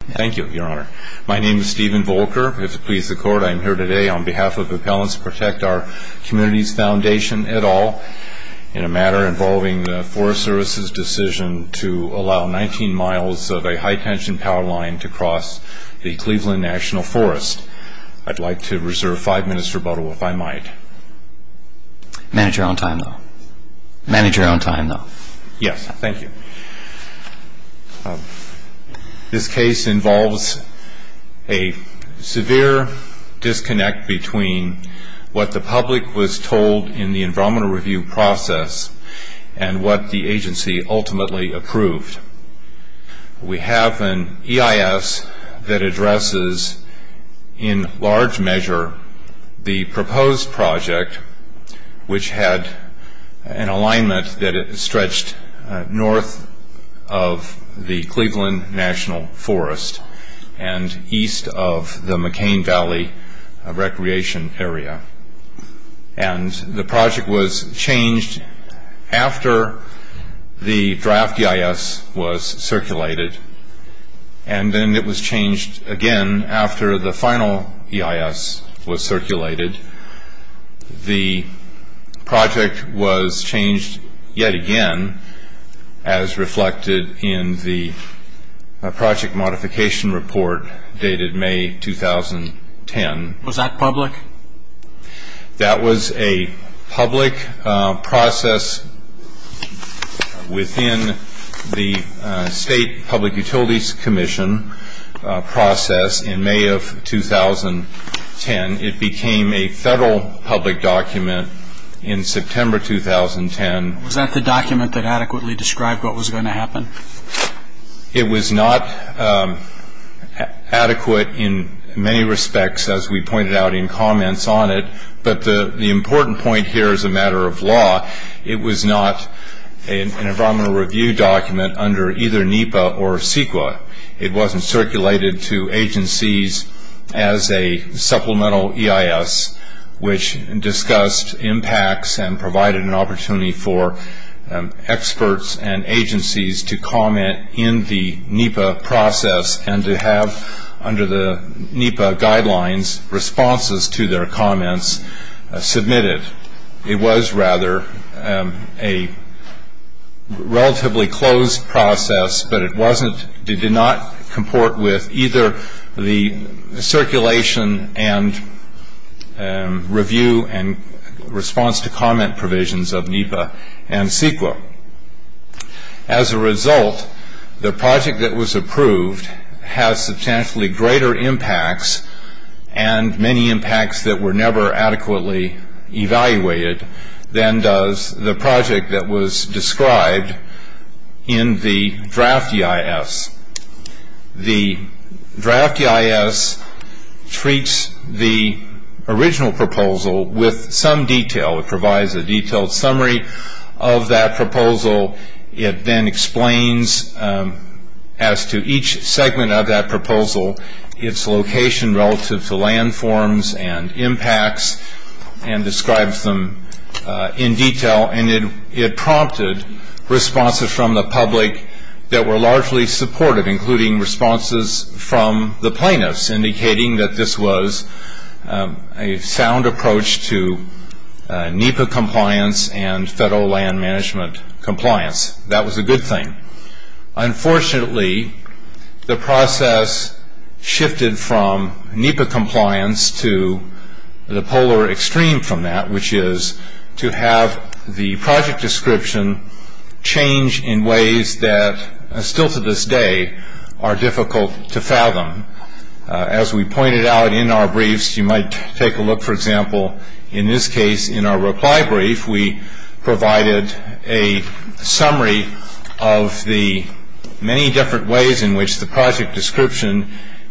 Thank you, Your Honor. My name is Stephen Volker. If it pleases the Court, I am here today on behalf of Appellants Protect Our Communities Foundation, et al., in a matter involving the Forest Service's decision to allow 19 miles of a high-tension power line to cross the Cleveland National Forest. I'd like to reserve five minutes for rebuttal, if I might. Manage your own time, though. Manage your own time, though. Yes, thank you. This case involves a severe disconnect between what the public was told in the environmental review process and what the agency ultimately approved. We have an EIS that addresses, in large measure, the proposed project, which had an alignment that stretched north of the Cleveland National Forest and east of the McCain Valley Recreation Area. And the project was changed after the draft EIS was circulated, and then it was changed again after the final EIS was circulated. The project was changed yet again, as reflected in the project modification report dated May 2010. Was that public? That was a public process within the State Public Utilities Commission process in May of 2010. It became a federal public document in September 2010. Was that the document that adequately described what was going to happen? It was not adequate in many respects, as we pointed out in comments on it, but the important point here is a matter of law. It was not an environmental review document under either NEPA or CEQA. It wasn't circulated to agencies as a supplemental EIS, which discussed impacts and provided an opportunity for experts and agencies to comment in the NEPA process and to have, under the NEPA guidelines, responses to their comments submitted. It was, rather, a relatively closed process, but it did not comport with either the circulation and review and response to comment provisions of NEPA and CEQA. As a result, the project that was approved has substantially greater impacts and many impacts that were never adequately evaluated than does the project that was described in the draft EIS. The draft EIS treats the original proposal with some detail. It provides a detailed summary of that proposal. It then explains, as to each segment of that proposal, its location relative to landforms and impacts and describes them in detail. It prompted responses from the public that were largely supportive, including responses from the plaintiffs, indicating that this was a sound approach to NEPA compliance and federal land management compliance. That was a good thing. Unfortunately, the process shifted from NEPA compliance to the polar extreme from that, which is to have the project description change in ways that, still to this day, are difficult to fathom. As we pointed out in our briefs, you might take a look, for example, in this case, in our reply brief, we provided a summary of the many different ways in which the project description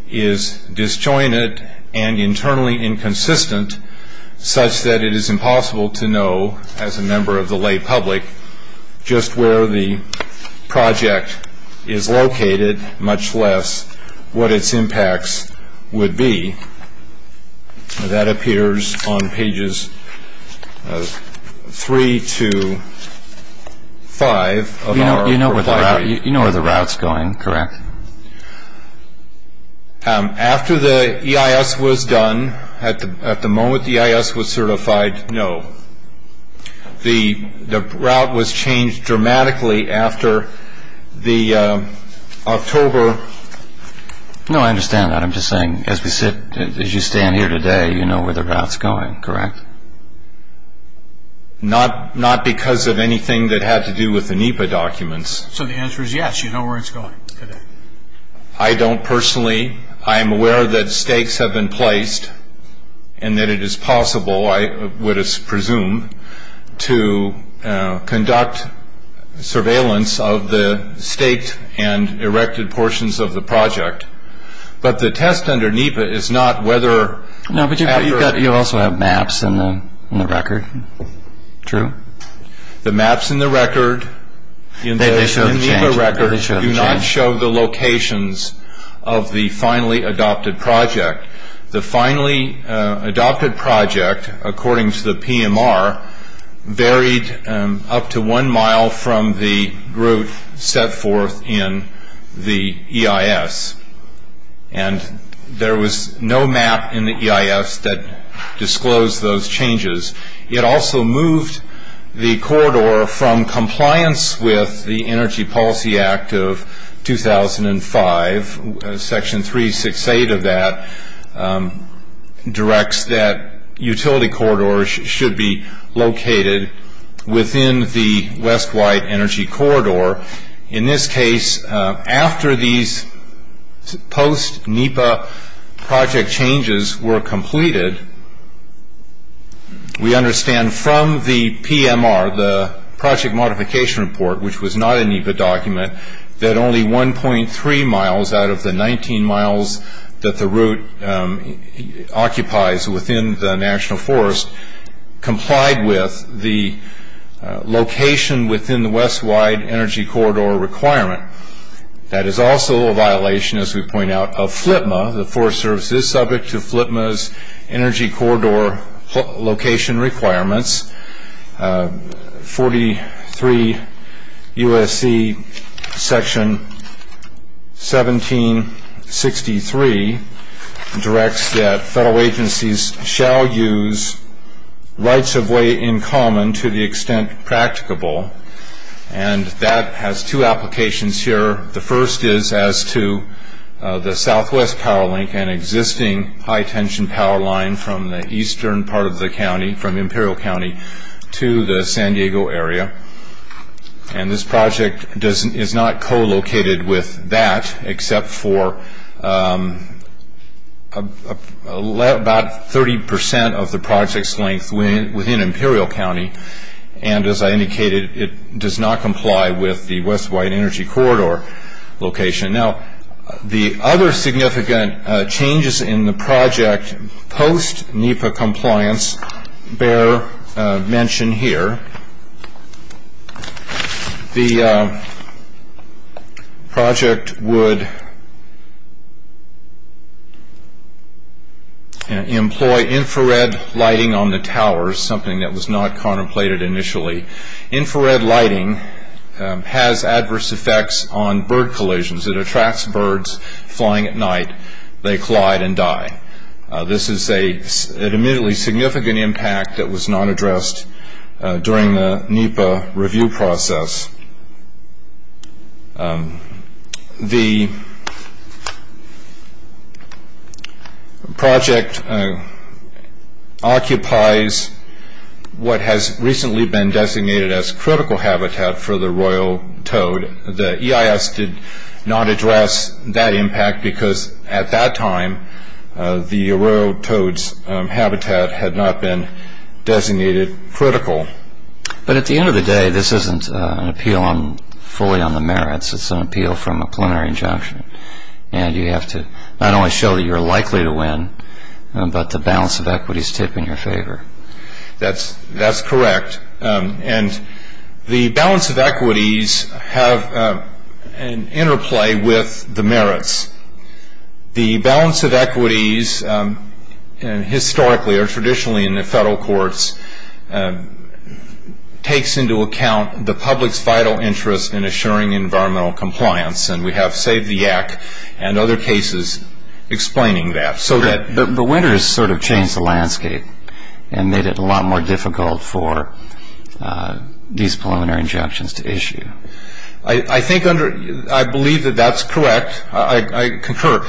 is disjointed and internally inconsistent, such that it is impossible to know, as a member of the lay public, just where the project is located, much less what its impacts would be. That appears on pages 3 to 5 of our reply brief. You know where the route's going, correct? After the EIS was done, at the moment the EIS was certified, no. The route was changed dramatically after the October... No, I understand that. I'm just saying, as you stand here today, you know where the route's going, correct? Not because of anything that had to do with the NEPA documents. So the answer is yes, you know where it's going. I don't personally. I am aware that stakes have been placed and that it is possible, I would presume, to conduct surveillance of the staked and erected portions of the project. But the test under NEPA is not whether... No, but you also have maps in the record, true? The maps in the NEPA record do not show the locations of the finally adopted project. The finally adopted project, according to the PMR, varied up to one mile from the route set forth in the EIS. And there was no map in the EIS that disclosed those changes. It also moved the corridor from compliance with the Energy Policy Act of 2005. Section 368 of that directs that utility corridors should be located within the West White Energy Corridor. In this case, after these post-NEPA project changes were completed, we understand from the PMR, the Project Modification Report, which was not a NEPA document, that only 1.3 miles out of the 19 miles that the route occupies within the National Forest complied with the location within the West White Energy Corridor requirement. That is also a violation, as we point out, of FLIPMA. The Forest Service is subject to FLIPMA's Energy Corridor location requirements. 43 U.S.C. Section 1763 directs that federal agencies shall use rights-of-way in common to the extent practicable. And that has two applications here. The first is as to the southwest power link and existing high-tension power line from the eastern part of the county, from Imperial County, to the San Diego area. And this project is not co-located with that, except for about 30% of the project's length within Imperial County. And, as I indicated, it does not comply with the West White Energy Corridor location. Now, the other significant changes in the project post-NEPA compliance bear mention here. The project would employ infrared lighting on the towers, something that was not contemplated initially. Infrared lighting has adverse effects on bird collisions. It attracts birds flying at night. They collide and die. This is an immediately significant impact that was not addressed during the NEPA review process. The project occupies what has recently been designated as critical habitat for the royal toad. The EIS did not address that impact because, at that time, the royal toad's habitat had not been designated critical. But, at the end of the day, this isn't an appeal fully on the merits. It's an appeal from a preliminary injunction. And you have to not only show that you're likely to win, but the balance of equities tip in your favor. That's correct. And the balance of equities have an interplay with the merits. The balance of equities, historically or traditionally in the federal courts, takes into account the public's vital interest in assuring environmental compliance. And we have Saved the Yak and other cases explaining that. But winter has sort of changed the landscape and made it a lot more difficult for these preliminary injunctions to issue. I believe that that's correct. I concur.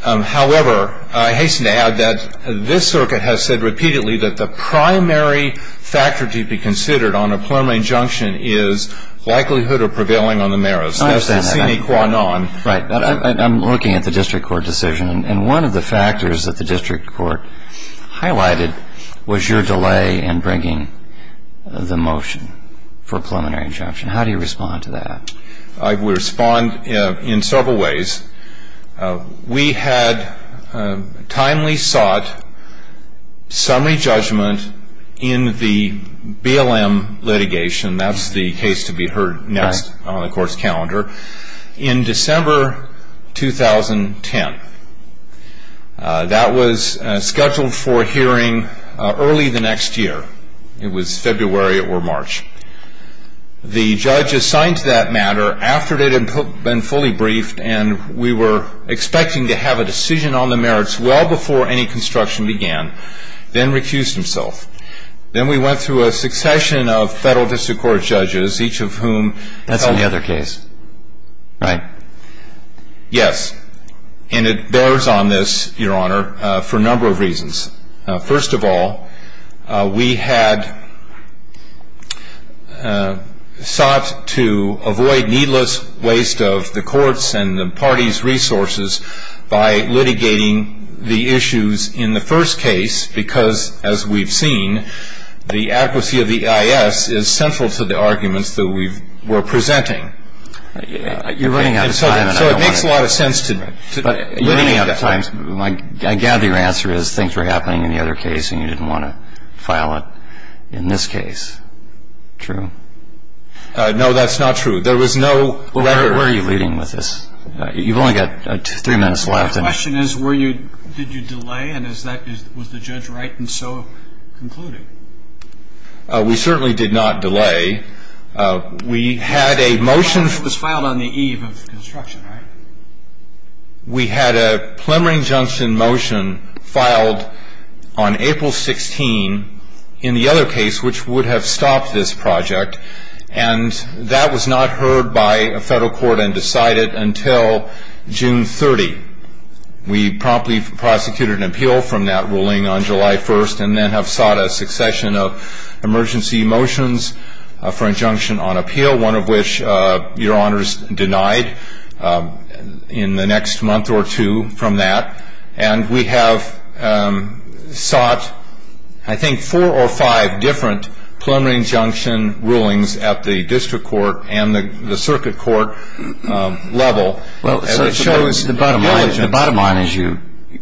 However, I hasten to add that this circuit has said repeatedly that the primary factor to be considered on a preliminary injunction is likelihood of prevailing on the merits. That's the sine qua non. I'm looking at the district court decision. And one of the factors that the district court highlighted was your delay in bringing the motion for a preliminary injunction. How do you respond to that? I would respond in several ways. We had timely sought summary judgment in the BLM litigation. That's the case to be heard next on the court's calendar. In December 2010. That was scheduled for hearing early the next year. It was February or March. The judge assigned to that matter after it had been fully briefed and we were expecting to have a decision on the merits well before any construction began, then recused himself. Then we went through a succession of federal district court judges, each of whom... Right. Yes. And it bears on this, Your Honor, for a number of reasons. First of all, we had sought to avoid needless waste of the court's and the party's resources by litigating the issues in the first case because, as we've seen, the adequacy of the EIS is central to the arguments that we were presenting. You're running out of time. So it makes a lot of sense to... You're running out of time. I gather your answer is things were happening in the other case and you didn't want to file it in this case. True? No, that's not true. There was no letter... Where are you leading with this? You've only got three minutes left. The question is, did you delay and was the judge right in so concluding? We certainly did not delay. We had a motion... The motion was filed on the eve of construction, right? We had a plumbering junction motion filed on April 16 in the other case, which would have stopped this project, and that was not heard by a federal court and decided until June 30. We promptly prosecuted an appeal from that ruling on July 1 and then have sought a succession of emergency motions for injunction on appeal, one of which your honors denied in the next month or two from that, and we have sought, I think, four or five different plumbering junction rulings at the district court and the circuit court level. So it shows the bottom line is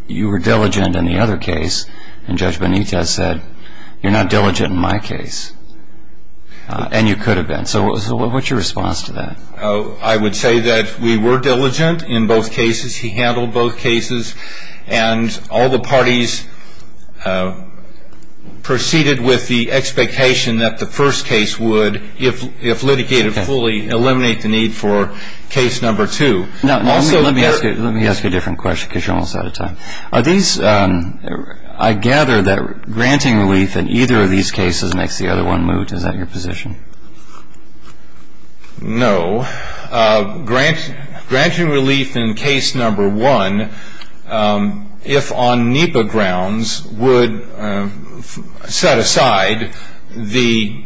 you were diligent in the other case, and Judge Benitez said, you're not diligent in my case, and you could have been. So what's your response to that? I would say that we were diligent in both cases. He handled both cases, and all the parties proceeded with the expectation that the first case would, if litigated fully, eliminate the need for case number two. Now, let me ask you a different question because you're almost out of time. Are these ñ I gather that granting relief in either of these cases makes the other one moot. Is that your position? No. Granting relief in case number one, if on NEPA grounds, would set aside the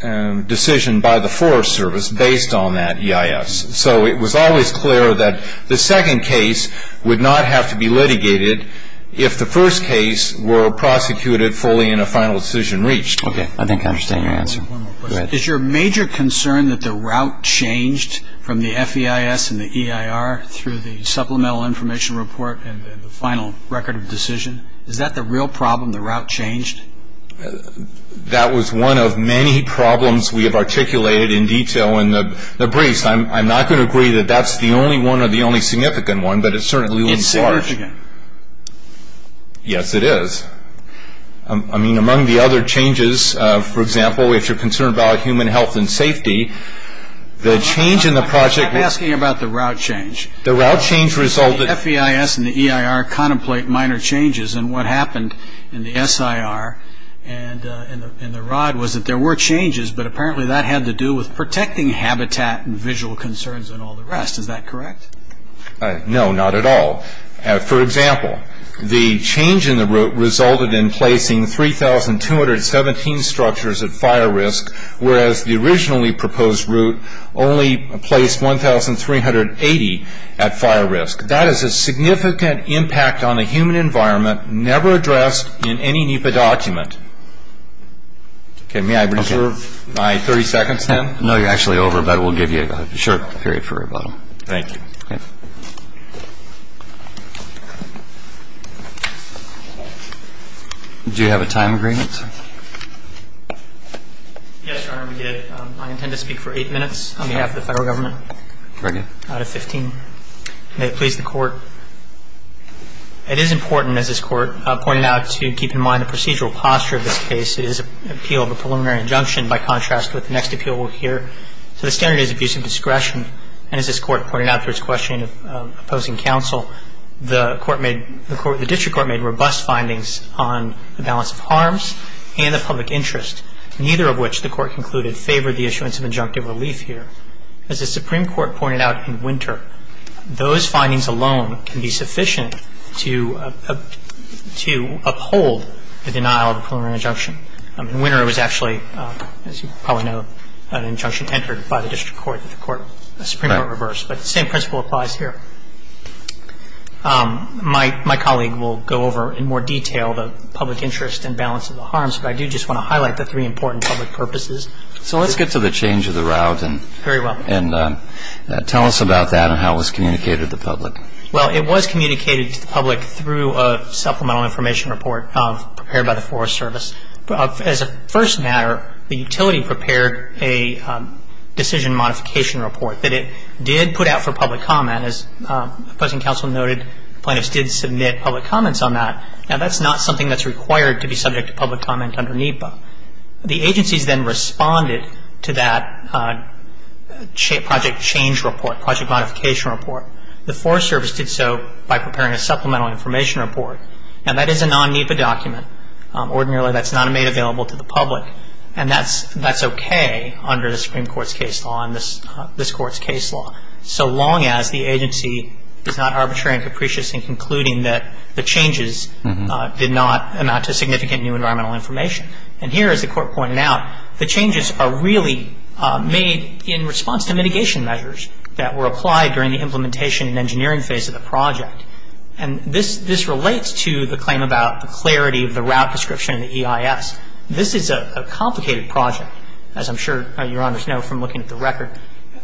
decision by the Forest Service based on that EIS. So it was always clear that the second case would not have to be litigated if the first case were prosecuted fully and a final decision reached. Okay. I think I understand your answer. One more question. Is your major concern that the route changed from the FEIS and the EIR through the Supplemental Information Report and the final record of decision? Is that the real problem, the route changed? That was one of many problems we have articulated in detail in the briefs. I'm not going to agree that that's the only one or the only significant one, but it certainly was large. It's significant. Yes, it is. I mean, among the other changes, for example, if you're concerned about human health and safety, the change in the project ñ I'm asking about the route change. The route change resulted ñ The FEIS and the EIR contemplate minor changes, and what happened in the SIR and the ROD was that there were changes, but apparently that had to do with protecting habitat and visual concerns and all the rest. Is that correct? No, not at all. For example, the change in the route resulted in placing 3,217 structures at fire risk, whereas the originally proposed route only placed 1,380 at fire risk. That is a significant impact on the human environment never addressed in any NEPA document. Okay, may I reserve my 30 seconds then? No, you're actually over, but we'll give you a short period for rebuttal. Thank you. Okay. Do you have a time agreement? Yes, Your Honor, we do. I intend to speak for eight minutes on behalf of the Federal Government. Very good. Out of 15. May it please the Court. It is important, as this Court pointed out, to keep in mind the procedural posture of this case. It is an appeal of a preliminary injunction by contrast with the next appeal here. So the standard is abuse of discretion. And as this Court pointed out through its questioning of opposing counsel, the District Court made robust findings on the balance of harms and the public interest, neither of which the Court concluded favored the issuance of injunctive relief here. As the Supreme Court pointed out in Winter, those findings alone can be sufficient to uphold the denial of a preliminary injunction. Winter was actually, as you probably know, an injunction entered by the District Court that the Supreme Court reversed. But the same principle applies here. My colleague will go over in more detail the public interest and balance of the harms, but I do just want to highlight the three important public purposes. So let's get to the change of the route. Very well. And tell us about that and how it was communicated to the public. Well, it was communicated to the public through a supplemental information report prepared by the Forest Service. As a first matter, the utility prepared a decision modification report that it did put out for public comment. As opposing counsel noted, plaintiffs did submit public comments on that. Now, that's not something that's required to be subject to public comment under NEPA. The agencies then responded to that project change report, project modification report. The Forest Service did so by preparing a supplemental information report. Now, that is a non-NEPA document. Ordinarily, that's not made available to the public. And that's okay under the Supreme Court's case law and this Court's case law, so long as the agency is not arbitrary and capricious in concluding that the changes did not amount to significant new environmental information. And here, as the Court pointed out, the changes are really made in response to mitigation measures that were applied during the implementation and engineering phase of the project. And this relates to the claim about the clarity of the route description in the EIS. This is a complicated project. As I'm sure Your Honors know from looking at the record,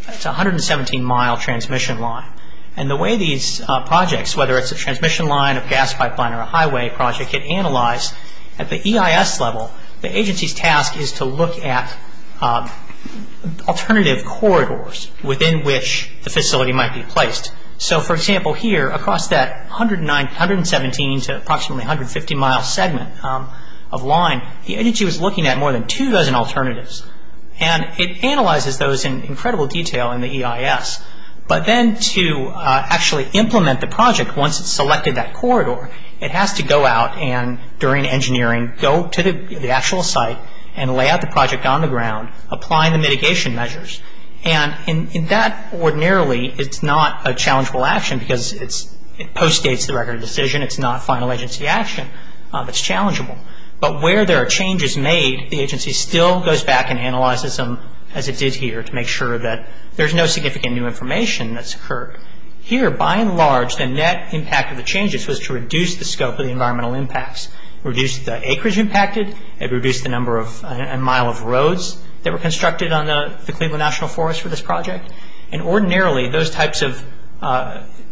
it's a 117-mile transmission line. And the way these projects, whether it's a transmission line, a gas pipeline, or a highway project, get analyzed at the EIS level, the agency's task is to look at alternative corridors within which the facility might be placed. So, for example, here, across that 117 to approximately 150-mile segment of line, the agency was looking at more than two dozen alternatives. And it analyzes those in incredible detail in the EIS. But then to actually implement the project once it's selected that corridor, it has to go out and, during engineering, go to the actual site and lay out the project on the ground, applying the mitigation measures. And in that, ordinarily, it's not a challengeable action because it postdates the record of decision. It's not final agency action. It's challengeable. But where there are changes made, the agency still goes back and analyzes them, as it did here, to make sure that there's no significant new information that's occurred. Here, by and large, the net impact of the changes was to reduce the scope of the environmental impacts, reduce the acreage impacted, and reduce the number of mile of roads that were constructed on the Cleveland National Forest for this project. And ordinarily, those types of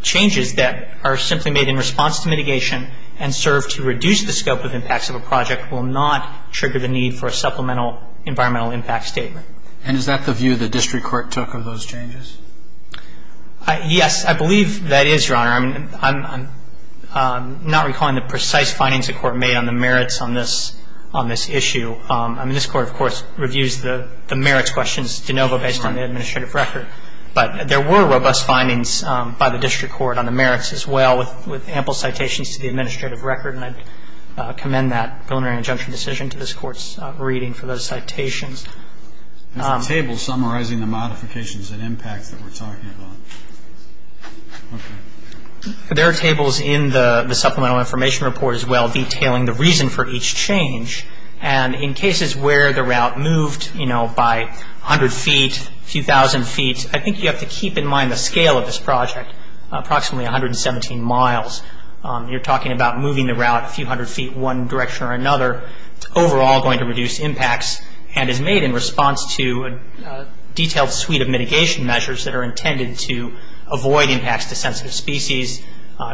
changes that are simply made in response to mitigation and serve to reduce the scope of impacts of a project will not trigger the need for a supplemental environmental impact statement. And is that the view the district court took of those changes? Yes, I believe that is, Your Honor. I'm not recalling the precise findings the court made on the merits on this issue. I mean, this court, of course, reviews the merits questions de novo based on the administrative record. But there were robust findings by the district court on the merits as well, with ample citations to the administrative record, and I commend that preliminary injunction decision to this court's reading for those citations. There's a table summarizing the modifications and impacts that we're talking about. There are tables in the supplemental information report as well, detailing the reason for each change. And in cases where the route moved by 100 feet, a few thousand feet, I think you have to keep in mind the scale of this project, approximately 117 miles. You're talking about moving the route a few hundred feet one direction or another, overall going to reduce impacts, and is made in response to a detailed suite of mitigation measures that are intended to avoid impacts to sensitive species,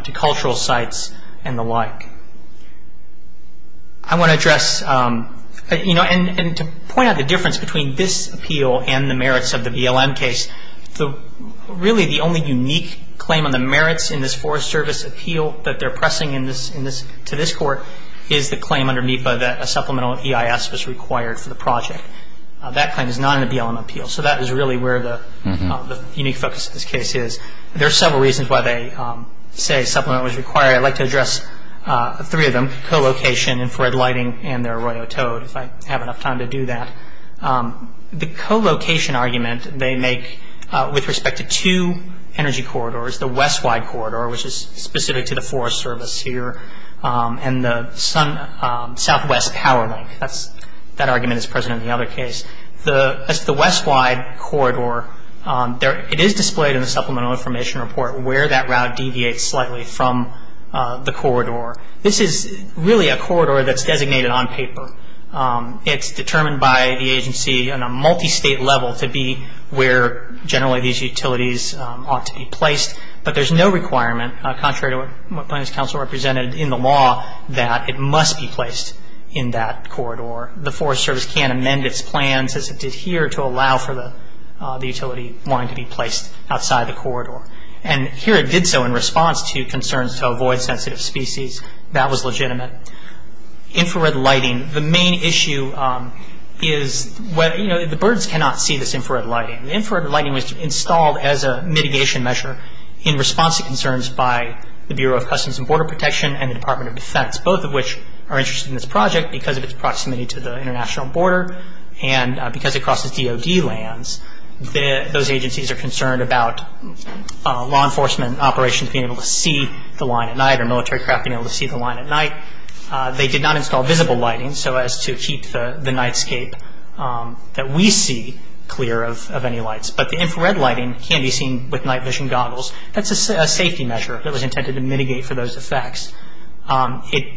to cultural sites, and the like. I want to address, you know, and to point out the difference between this appeal and the merits of the BLM case. Really, the only unique claim on the merits in this Forest Service appeal that they're pressing to this court is the claim under NEPA that a supplemental EIS was required for the project. That claim is not in the BLM appeal, so that is really where the unique focus of this case is. There are several reasons why they say a supplement was required. I'd like to address three of them, co-location, infrared lighting, and their arroyo toad, if I have enough time to do that. The co-location argument they make with respect to two energy corridors, the west-wide corridor, which is specific to the Forest Service here, and the southwest power link. That argument is present in the other case. The west-wide corridor, it is displayed in the Supplemental Information Report where that route deviates slightly from the corridor. This is really a corridor that's designated on paper. It's determined by the agency on a multi-state level to be where generally these utilities ought to be placed, but there's no requirement, contrary to what Planning Council represented in the law, that it must be placed in that corridor. The Forest Service can't amend its plans as it did here to allow for the utility wanting to be placed outside the corridor. And here it did so in response to concerns to avoid sensitive species. That was legitimate. Infrared lighting, the main issue is the birds cannot see this infrared lighting. The infrared lighting was installed as a mitigation measure in response to concerns by the Bureau of Customs and Border Protection and the Department of Defense, both of which are interested in this project because of its proximity to the international border and because it crosses DOD lands. Those agencies are concerned about law enforcement operations being able to see the line at night They did not install visible lighting so as to keep the nightscape that we see clear of any lights. But the infrared lighting can be seen with night vision goggles. That's a safety measure that was intended to mitigate for those effects.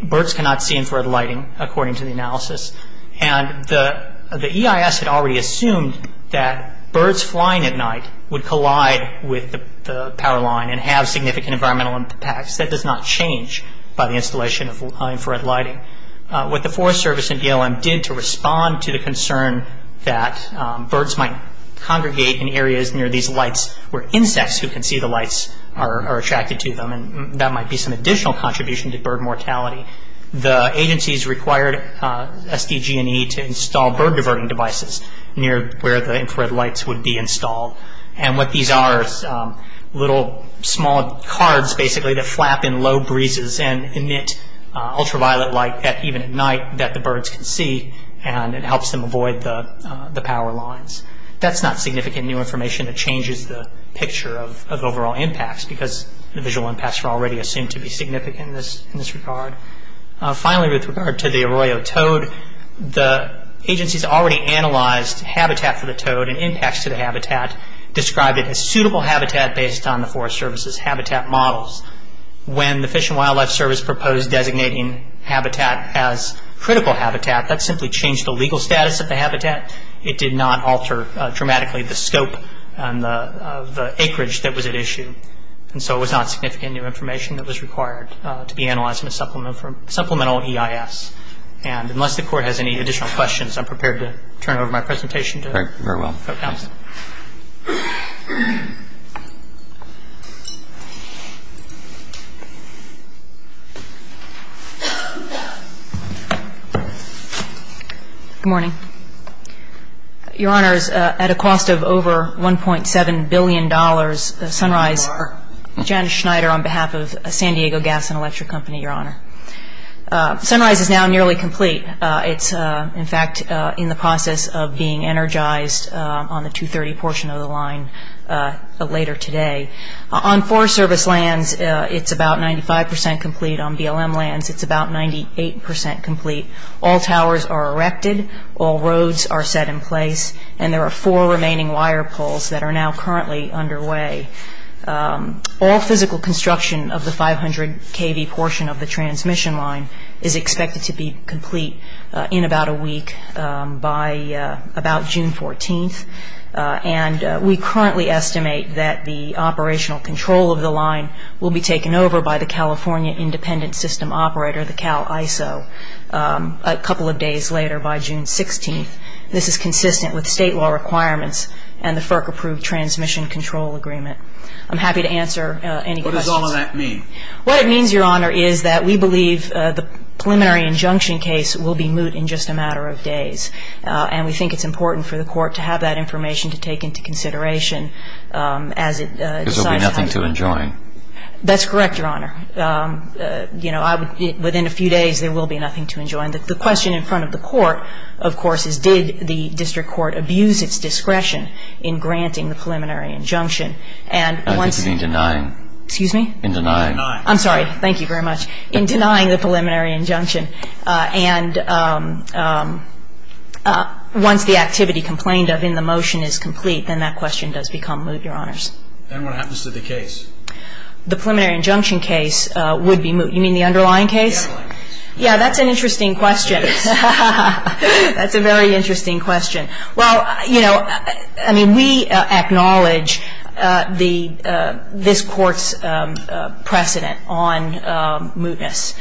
Birds cannot see infrared lighting, according to the analysis. And the EIS had already assumed that birds flying at night would collide with the power line and have significant environmental impacts. That does not change by the installation of infrared lighting. What the Forest Service and DLM did to respond to the concern that birds might congregate in areas near these lights where insects who can see the lights are attracted to them, and that might be some additional contribution to bird mortality, the agencies required SDG&E to install bird diverting devices near where the infrared lights would be installed. And what these are is little small cards basically that flap in low breezes and emit ultraviolet light even at night that the birds can see, and it helps them avoid the power lines. That's not significant new information that changes the picture of overall impacts because the visual impacts were already assumed to be significant in this regard. Finally, with regard to the Arroyo toad, the agencies already analyzed habitat for the toad and impacts to the habitat, described it as suitable habitat based on the Forest Service's habitat models. When the Fish and Wildlife Service proposed designating habitat as critical habitat, that simply changed the legal status of the habitat. It did not alter dramatically the scope of the acreage that was at issue. And so it was not significant new information that was required to be analyzed in a supplemental EIS. And unless the Court has any additional questions, I'm prepared to turn over my presentation. Thank you very well. Thank you. Good morning. Your Honors, at a cost of over $1.7 billion, Sunrise, Janice Schneider on behalf of San Diego Gas and Electric Company, Your Honor. Sunrise is now nearly complete. It's, in fact, in the process of being energized on the 230 portion of the line later today. On Forest Service lands, it's about 95% complete. On BLM lands, it's about 98% complete. All towers are erected, all roads are set in place, and there are four remaining wire poles that are now currently underway. All physical construction of the 500 kV portion of the transmission line is expected to be complete in about a week by about June 14th. And we currently estimate that the operational control of the line will be taken over by the California Independent System Operator, the CalISO, a couple of days later by June 16th. This is consistent with state law requirements and the FERC-approved transmission control agreement. I'm happy to answer any questions. What does all of that mean? What it means, Your Honor, is that we believe the preliminary injunction case will be moot in just a matter of days, and we think it's important for the court to have that information to take into consideration as it decides how to do it. Because there will be nothing to enjoin. That's correct, Your Honor. You know, within a few days, there will be nothing to enjoin. The question in front of the court, of course, is did the district court abuse its discretion in granting the preliminary injunction? And once... I think you mean denying. Excuse me? In denying. I'm sorry. Thank you very much. In denying the preliminary injunction. And once the activity complained of in the motion is complete, then that question does become moot, Your Honors. And what happens to the case? The preliminary injunction case would be moot. You mean the underlying case? The underlying case. Yeah, that's an interesting question. Yes. That's a very interesting question. Well, you know, I mean, we acknowledge this Court's precedent on mootness,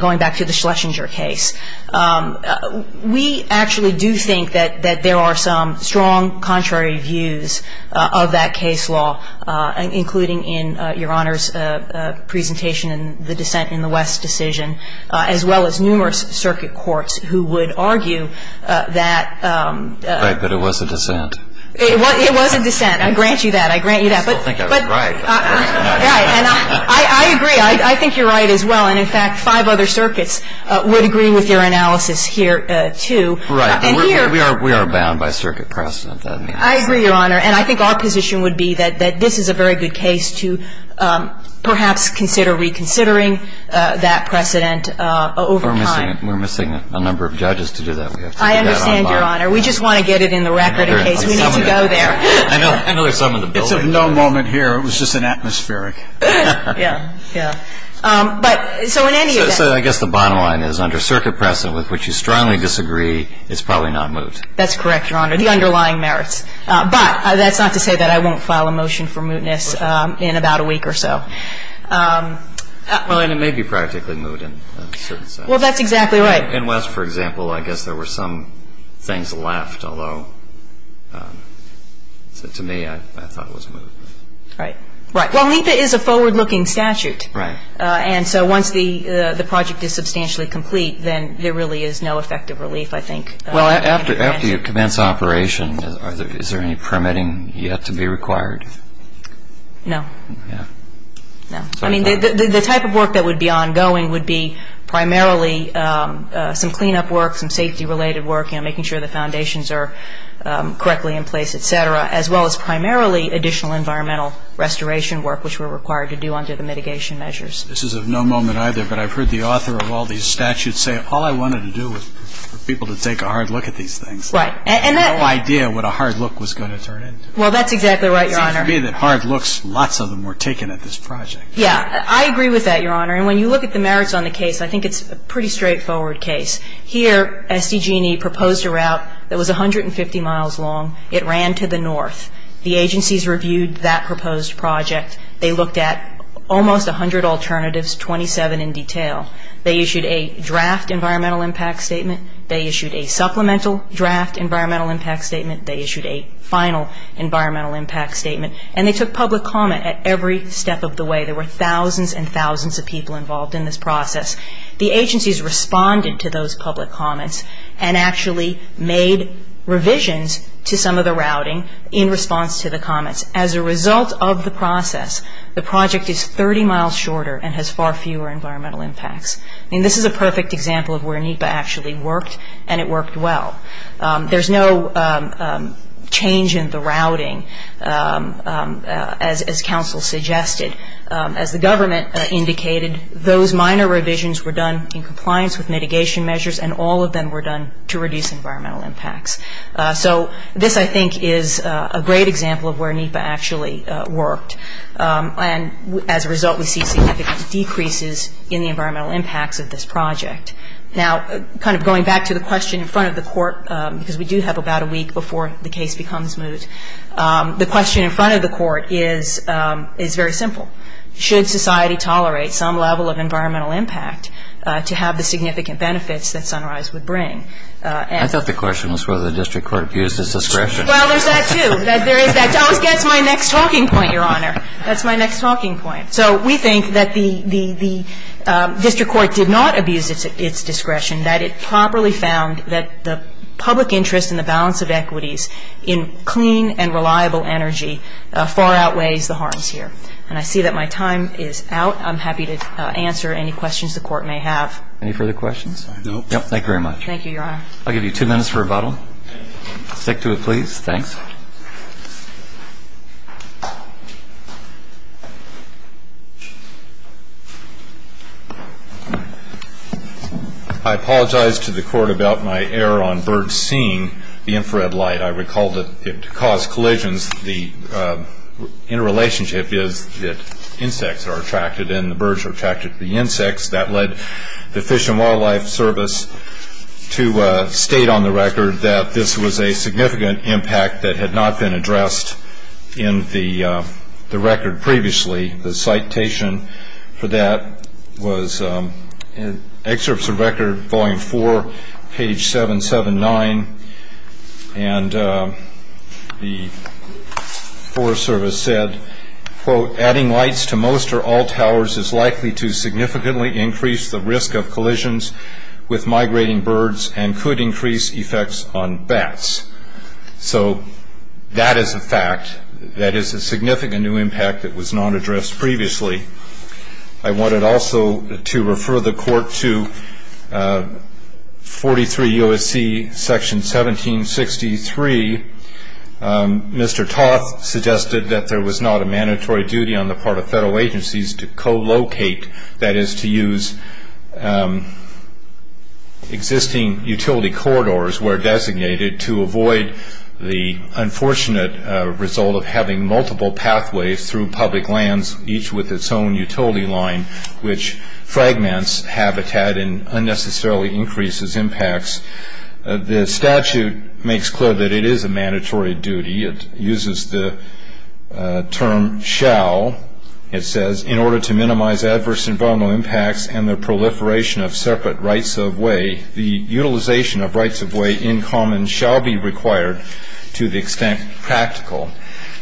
going back to the Schlesinger case. We actually do think that there are some strong contrary views of that case law, including in Your Honor's presentation in the dissent in the West decision, as well as numerous circuit courts who would argue that... Right. But it was a dissent. It was a dissent. I grant you that. I grant you that. But... I still think I was right. Right. And I agree. I think you're right as well. And, in fact, five other circuits would agree with your analysis here, too. Right. And we are bound by circuit precedent. I agree, Your Honor. And I think our position would be that this is a very good case to perhaps consider reconsidering that precedent over time. We're missing a number of judges to do that. I understand, Your Honor. We just want to get it in the record in case. We need to go there. I know there's some in the building. It's of no moment here. It was just an atmospheric. Yeah. Yeah. But so in any event... So I guess the bottom line is under circuit precedent, with which you strongly disagree, it's probably not moot. That's correct, Your Honor. The underlying merits. But that's not to say that I won't file a motion for mootness in about a week or so. Well, and it may be practically moot in a certain sense. Well, that's exactly right. In West, for example, I guess there were some things left, although to me I thought it was moot. Right. Right. Well, NEPA is a forward-looking statute. Right. And so once the project is substantially complete, then there really is no effective relief, I think. Well, after you commence operation, is there any permitting yet to be required? No. Yeah. No. I mean, the type of work that would be ongoing would be primarily some cleanup work, some safety-related work, making sure the foundations are correctly in place, et cetera, as well as primarily additional environmental restoration work, which we're required to do under the mitigation measures. This is of no moment either, but I've heard the author of all these statutes say, All I wanted to do was for people to take a hard look at these things. Right. I had no idea what a hard look was going to turn into. Well, that's exactly right, Your Honor. It seems to me that hard looks, lots of them were taken at this project. Yeah. I agree with that, Your Honor. And when you look at the merits on the case, I think it's a pretty straightforward case. Here, SDG&E proposed a route that was 150 miles long. It ran to the north. The agencies reviewed that proposed project. They looked at almost 100 alternatives, 27 in detail. They issued a draft environmental impact statement. They issued a supplemental draft environmental impact statement. They issued a final environmental impact statement. And they took public comment at every step of the way. There were thousands and thousands of people involved in this process. The agencies responded to those public comments and actually made revisions to some of the routing in response to the comments. As a result of the process, the project is 30 miles shorter and has far fewer environmental impacts. I mean, this is a perfect example of where NEPA actually worked, and it worked well. There's no change in the routing, as counsel suggested. As the government indicated, those minor revisions were done in compliance with mitigation measures, and all of them were done to reduce environmental impacts. So this, I think, is a great example of where NEPA actually worked. And as a result, we see significant decreases in the environmental impacts of this project. Now, kind of going back to the question in front of the court, because we do have about a week before the case becomes moot, the question in front of the court is very simple. Should society tolerate some level of environmental impact to have the significant benefits that Sunrise would bring? I thought the question was whether the district court abused its discretion. Well, there's that, too. That always gets my next talking point, Your Honor. That's my next talking point. So we think that the district court did not abuse its discretion, that it properly found that the public interest in the balance of equities in clean and reliable energy far outweighs the harms here. And I see that my time is out. I'm happy to answer any questions the court may have. Any further questions? No. Thank you very much. Thank you, Your Honor. I'll give you two minutes for rebuttal. Stick to it, please. Thanks. I apologize to the court about my error on birds seeing the infrared light. I recall that it caused collisions. The interrelationship is that insects are attracted and the birds are attracted to the insects. That led the Fish and Wildlife Service to state on the record that this was a significant impact that had not been addressed in the record previously. The citation for that was in Excerpts of Record, Volume 4, page 779. And the Forest Service said, quote, adding lights to most or all towers is likely to significantly increase the risk of collisions with migrating birds and could increase effects on bats. So that is a fact. That is a significant new impact that was not addressed previously. I wanted also to refer the court to 43 U.S.C., Section 1763. Mr. Toth suggested that there was not a mandatory duty on the part of federal agencies to co-locate, that is to use existing utility corridors where designated to avoid the unfortunate result of having multiple pathways through public lands, each with its own utility line, which fragments habitat and unnecessarily increases impacts. The statute makes clear that it is a mandatory duty. It uses the term shall. It says, in order to minimize adverse environmental impacts and the proliferation of separate rights of way, the utilization of rights of way in common shall be required to the extent practical.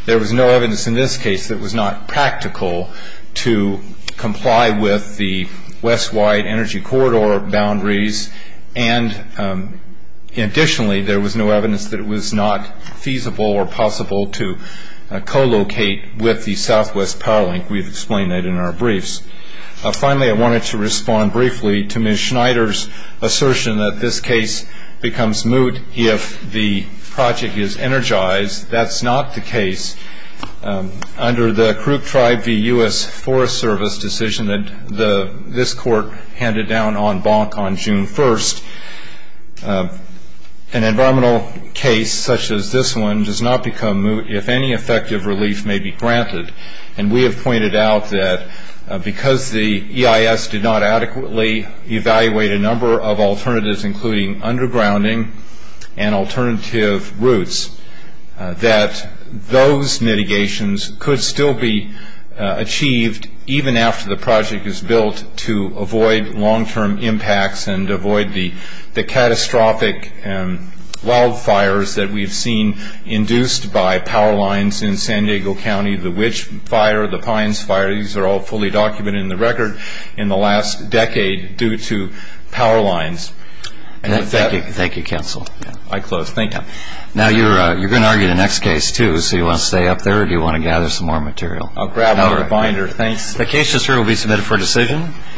There was no evidence in this case that it was not practical to comply with the west-wide energy corridor boundaries, and additionally there was no evidence that it was not feasible or possible to co-locate with the southwest power link. We've explained that in our briefs. Finally, I wanted to respond briefly to Ms. Schneider's assertion that this case becomes moot if the project is energized. That's not the case. Under the Crook Tribe v. U.S. Forest Service decision that this court handed down on Bonk on June 1st, an environmental case such as this one does not become moot if any effective relief may be granted, and we have pointed out that because the EIS did not adequately evaluate a number of alternatives, including undergrounding and alternative routes, that those mitigations could still be achieved even after the project is built to avoid long-term impacts and avoid the catastrophic wildfires that we've seen induced by power lines in San Diego County, the Wyche fire, the Pines fire, these are all fully documented in the record in the last decade due to power lines. Thank you, counsel. I close. Thank you. Now you're going to argue the next case too, so do you want to stay up there or do you want to gather some more material? I'll grab another binder. Thanks. The case will be submitted for decision.